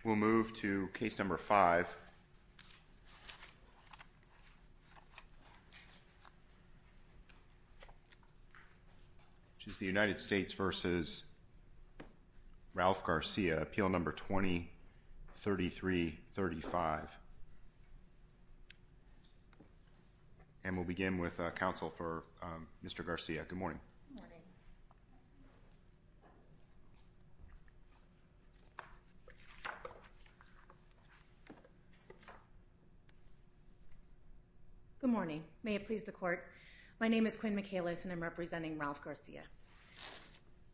Appeal No. 20-3335. And we'll begin with counsel for Mr. Garcia. Good morning. Good morning. May it please the court, my name is Quinn Michaelis and I'm representing Ralph Garcia.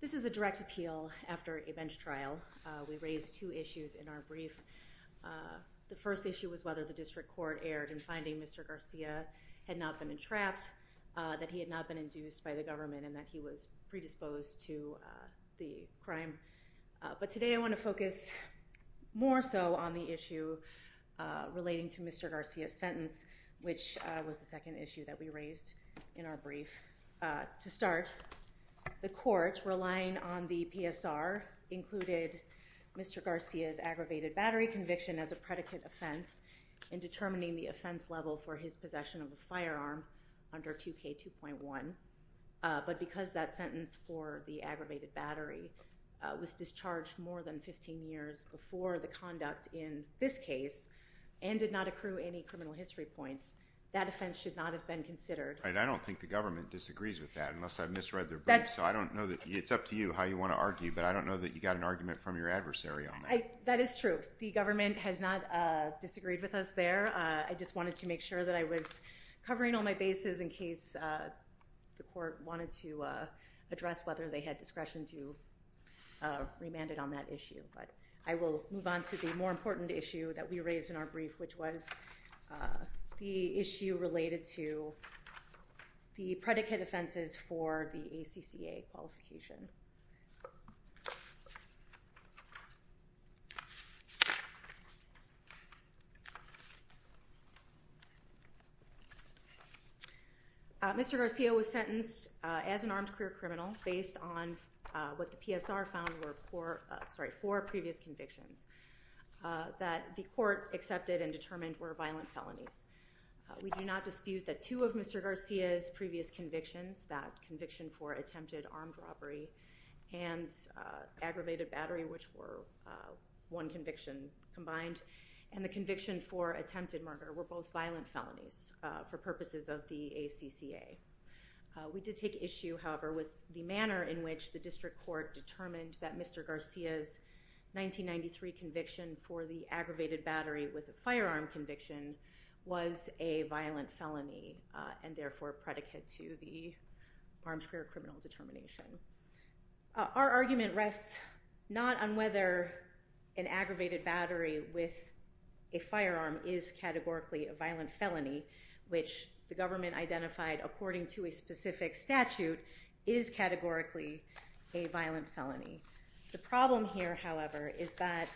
This is a direct appeal after a bench trial. We raised two issues in our brief. The first issue was whether the district court erred in finding Mr. Garcia had not been trapped, that he had not been induced by the government, and that he was predisposed to the crime. But today I want to focus more so on the issue relating to Mr. Garcia's sentence, which was the second issue that we raised in our brief. To start, the court, relying on the PSR, included Mr. Garcia's aggravated battery conviction as a predicate offense in determining the offense level for his possession of a firearm under 2K2.1. But because that sentence for the aggravated battery was discharged more than 15 years before the conduct in this case, and did not accrue any criminal history points, that offense should not have been considered. I don't think the government disagrees with that, unless I misread their brief, so I don't know, it's up to you how you want to argue, but I don't know that you guys disagreed with us there. I just wanted to make sure that I was covering all my bases in case the court wanted to address whether they had discretion to remand it on that issue. But I will move on to the more important issue that we raised in our brief, which was the predicate offenses for the ACCA qualification. Mr. Garcia was sentenced as an armed career criminal based on what the PSR found were four previous convictions that the court accepted and determined were violent felonies. We do not dispute that two of Mr. Garcia's previous convictions, that conviction for attempted armed robbery and aggravated battery, which were one conviction combined, and the conviction for attempted murder were both violent felonies for purposes of the ACCA. We did take issue, however, with the manner in which the district court determined that Mr. Garcia's 1993 conviction for the aggravated battery with a firearm conviction was a violent felony, and therefore a predicate to the armed career criminal determination. Our argument rests not on whether an aggravated battery with a firearm is categorically a violent felony, which the government identified according to a specific statute is categorically a violent felony. The problem here, however, is that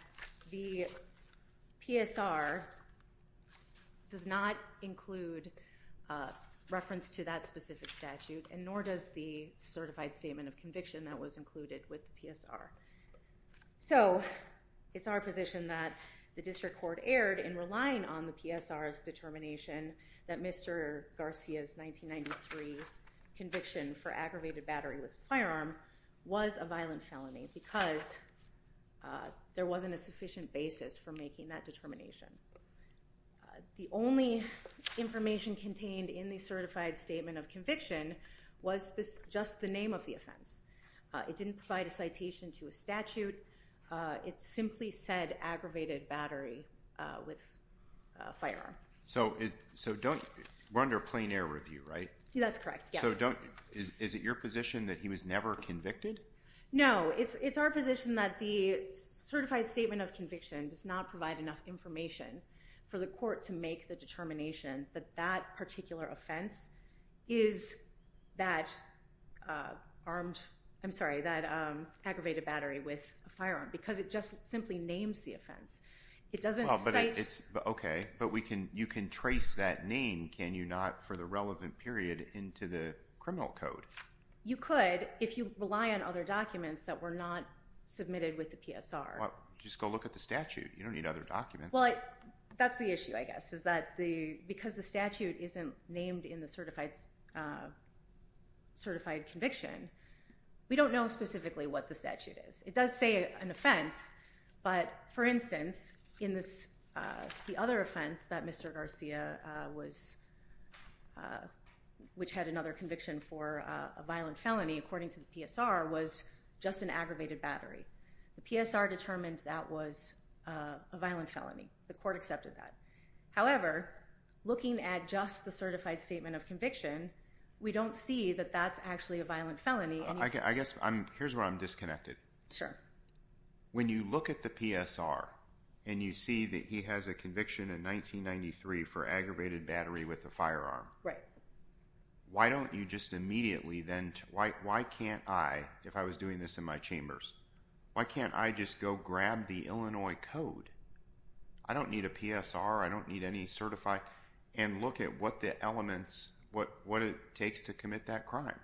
the PSR does not include reference to that specific statute, and nor does the certified statement of conviction that was included with the PSR. So it's our position that the district court erred in relying on the PSR's 1993 conviction for aggravated battery with a firearm was a violent felony because there wasn't a sufficient basis for making that determination. The only information contained in the certified statement of conviction was just the name of the offense. It didn't provide a citation to a statute. It simply said aggravated battery with a firearm. So we're under a plain air review, right? That's correct, yes. So is it your position that he was never convicted? No, it's our position that the certified statement of conviction does not provide enough information for the court to make the determination that that particular offense is that aggravated But you can trace that name, can you not, for the relevant period into the criminal code? You could if you rely on other documents that were not submitted with the PSR. Just go look at the statute. You don't need other documents. That's the issue, I guess, is that because the statute isn't named in the certified conviction, we don't know specifically what the statute is. It does say an offense, but for instance, the other offense that Mr. Garcia, which had another conviction for a violent felony, according to the PSR, was just an aggravated battery. The PSR determined that was a violent felony. The court accepted that. However, looking at just the certified statement of conviction, we don't see that that's actually a violent felony. Here's where I'm disconnected. Sure. When you look at the PSR and you see that he has a conviction in 1993 for aggravated battery with a firearm, why don't you just immediately then, why can't I, if I was doing this in my chambers, why can't I just go grab the Illinois Code? I don't need a PSR. I don't need any certified. And look at what the elements, what it takes to commit that crime.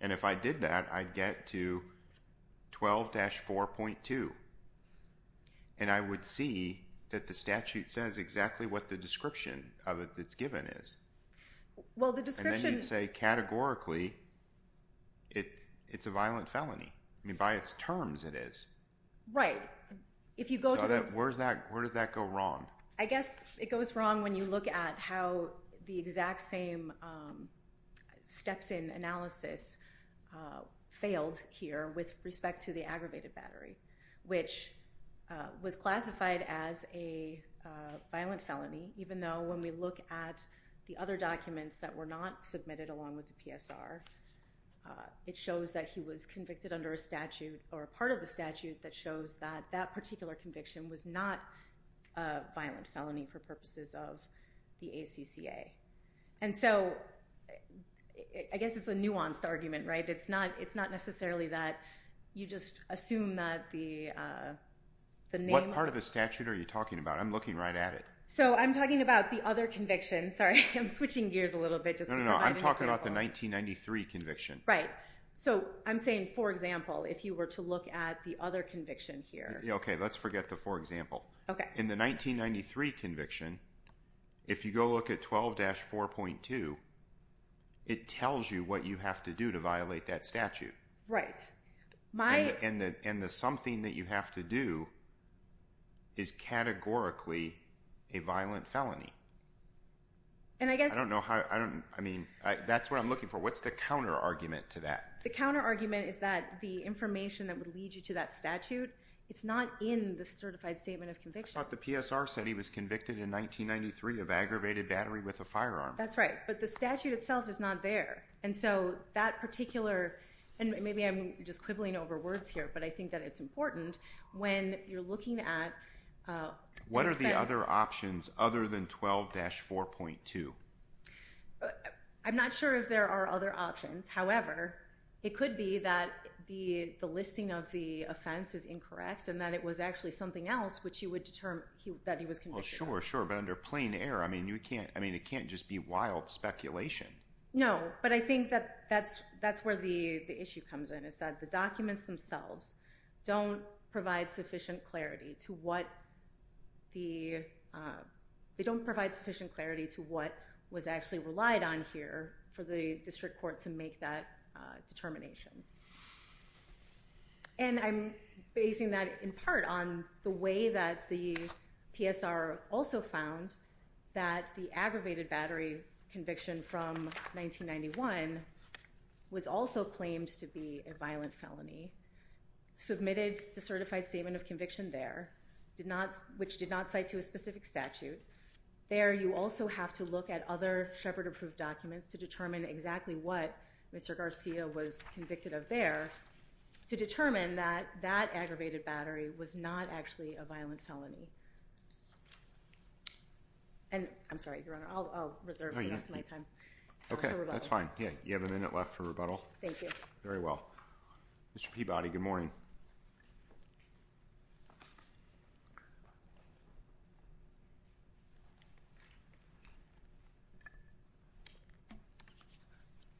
And if I did that, I'd get to 12-4.2. And I would see that the statute says exactly what the description of it that's given is. Well, the description… And then you'd say categorically it's a violent felony. I mean, by its terms it is. Right. If you go to those… So where does that go wrong? I guess it goes wrong when you look at how the exact same steps in analysis failed here with respect to the aggravated battery, which was classified as a violent felony, even though when we look at the other documents that were not submitted along with the PSR, it shows that he was convicted under a statute or a part of the statute that shows that that particular conviction was not a violent felony for purposes of the ACCA. And so I guess it's a nuanced argument, right? It's not necessarily that you just assume that the name… What part of the statute are you talking about? I'm looking right at it. So I'm talking about the other conviction. Sorry, I'm switching gears a little bit. No, no, no. I'm talking about the 1993 conviction. Right. So I'm saying, for example, if you were to look at the other conviction here… Okay, let's forget the for example. In the 1993 conviction, if you go look at 12-4.2, it tells you what you have to do to violate that statute. Right. And the something that you have to do is categorically a violent felony. And I guess… I mean, that's what I'm looking for. What's the counterargument to that? The counterargument is that the information that would lead you to that statute, it's not in the certified statement of conviction. I thought the PSR said he was convicted in 1993 of aggravated battery with a firearm. That's right. But the statute itself is not there. And so that particular… and maybe I'm just quibbling over words here, but I think that it's important when you're looking at defense… I'm not sure if there are other options. However, it could be that the listing of the offense is incorrect and that it was actually something else which you would determine that he was convicted of. Well, sure, sure. But under plain error, I mean, it can't just be wild speculation. No. But I think that that's where the issue comes in, is that the documents themselves don't provide sufficient clarity to what the… they don't provide sufficient clarity to what was actually relied on here for the district court to make that determination. And I'm basing that in part on the way that the PSR also found that the aggravated battery conviction from 1991 was also claimed to be a violent felony, submitted the certified statement of conviction there, which did not cite to a specific statute. There you also have to look at other Shepard-approved documents to determine exactly what Mr. Garcia was convicted of there to determine that that aggravated battery was not actually a violent felony. And I'm sorry, Your Honor, I'll reserve the rest of my time for rebuttal. Okay, that's fine. You have a minute left for rebuttal. Thank you. Very well. Mr. Peabody, good morning.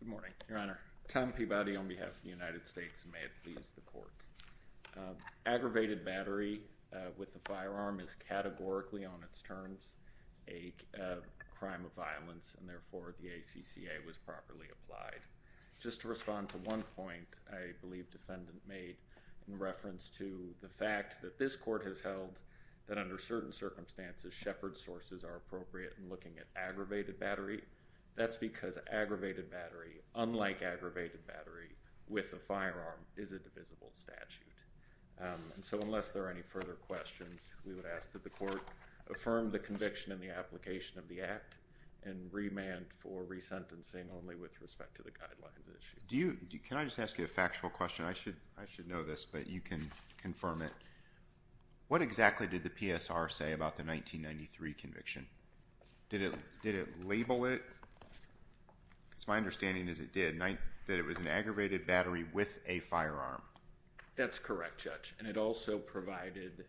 Good morning, Your Honor. Tom Peabody on behalf of the United States, and may it please the Court. Aggravated battery with the firearm is categorically on its terms. A crime of violence, and therefore the ACCA was properly applied. Just to respond to one point I believe the defendant made in reference to the fact that this Court has held that under certain circumstances, Shepard sources are appropriate in looking at aggravated battery. That's because aggravated battery, unlike aggravated battery with a firearm, is a divisible statute. So unless there are any further questions, we would ask that the Court affirm the conviction in the application of the act and remand for resentencing only with respect to the guidelines issue. Can I just ask you a factual question? I should know this, but you can confirm it. What exactly did the PSR say about the 1993 conviction? Did it label it? Because my understanding is it did. That it was an aggravated battery with a firearm. That's correct, Judge, and it also provided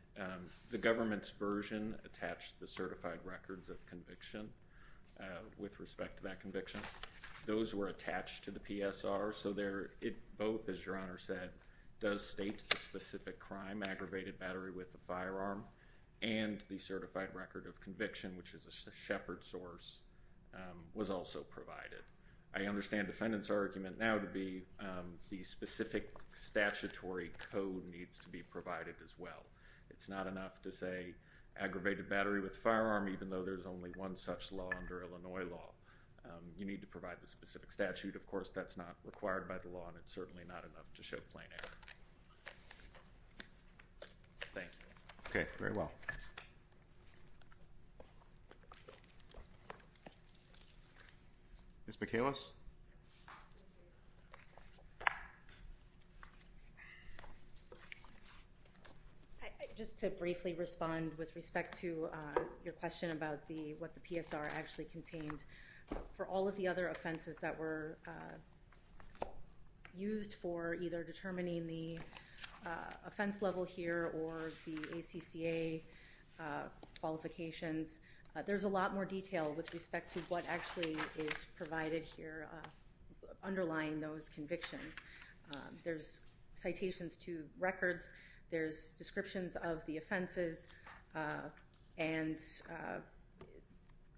the government's version attached to the certified records of conviction with respect to that conviction. Those were attached to the PSR, so both, as Your Honor said, does state the specific crime, aggravated battery with a firearm, and the certified record of conviction, which is a Shepard source, was also provided. I understand the defendant's argument now to be the specific statutory code needs to be provided as well. It's not enough to say aggravated battery with a firearm, even though there's only one such law under Illinois law. You need to provide the specific statute. Of course, that's not required by the law, and it's certainly not enough to show plain error. Thank you. Okay, very well. Thank you. Ms. McAlis? Just to briefly respond with respect to your question about what the PSR actually contained, for all of the other offenses that were used for either determining the offense level here or the ACCA qualifications, there's a lot more detail with respect to what actually is provided here underlying those convictions. There's citations to records. There's descriptions of the offenses and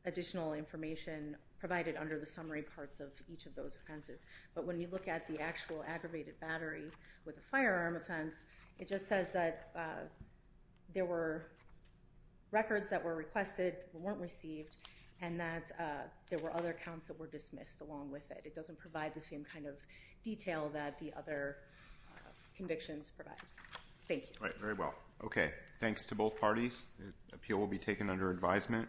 additional information provided under the summary parts of each of those offenses. But when you look at the actual aggravated battery with a firearm offense, it just says that there were records that were requested, weren't received, and that there were other counts that were dismissed along with it. It doesn't provide the same kind of detail that the other convictions provide. Thank you. All right, very well. Okay, thanks to both parties. Appeal will be taken under advisement.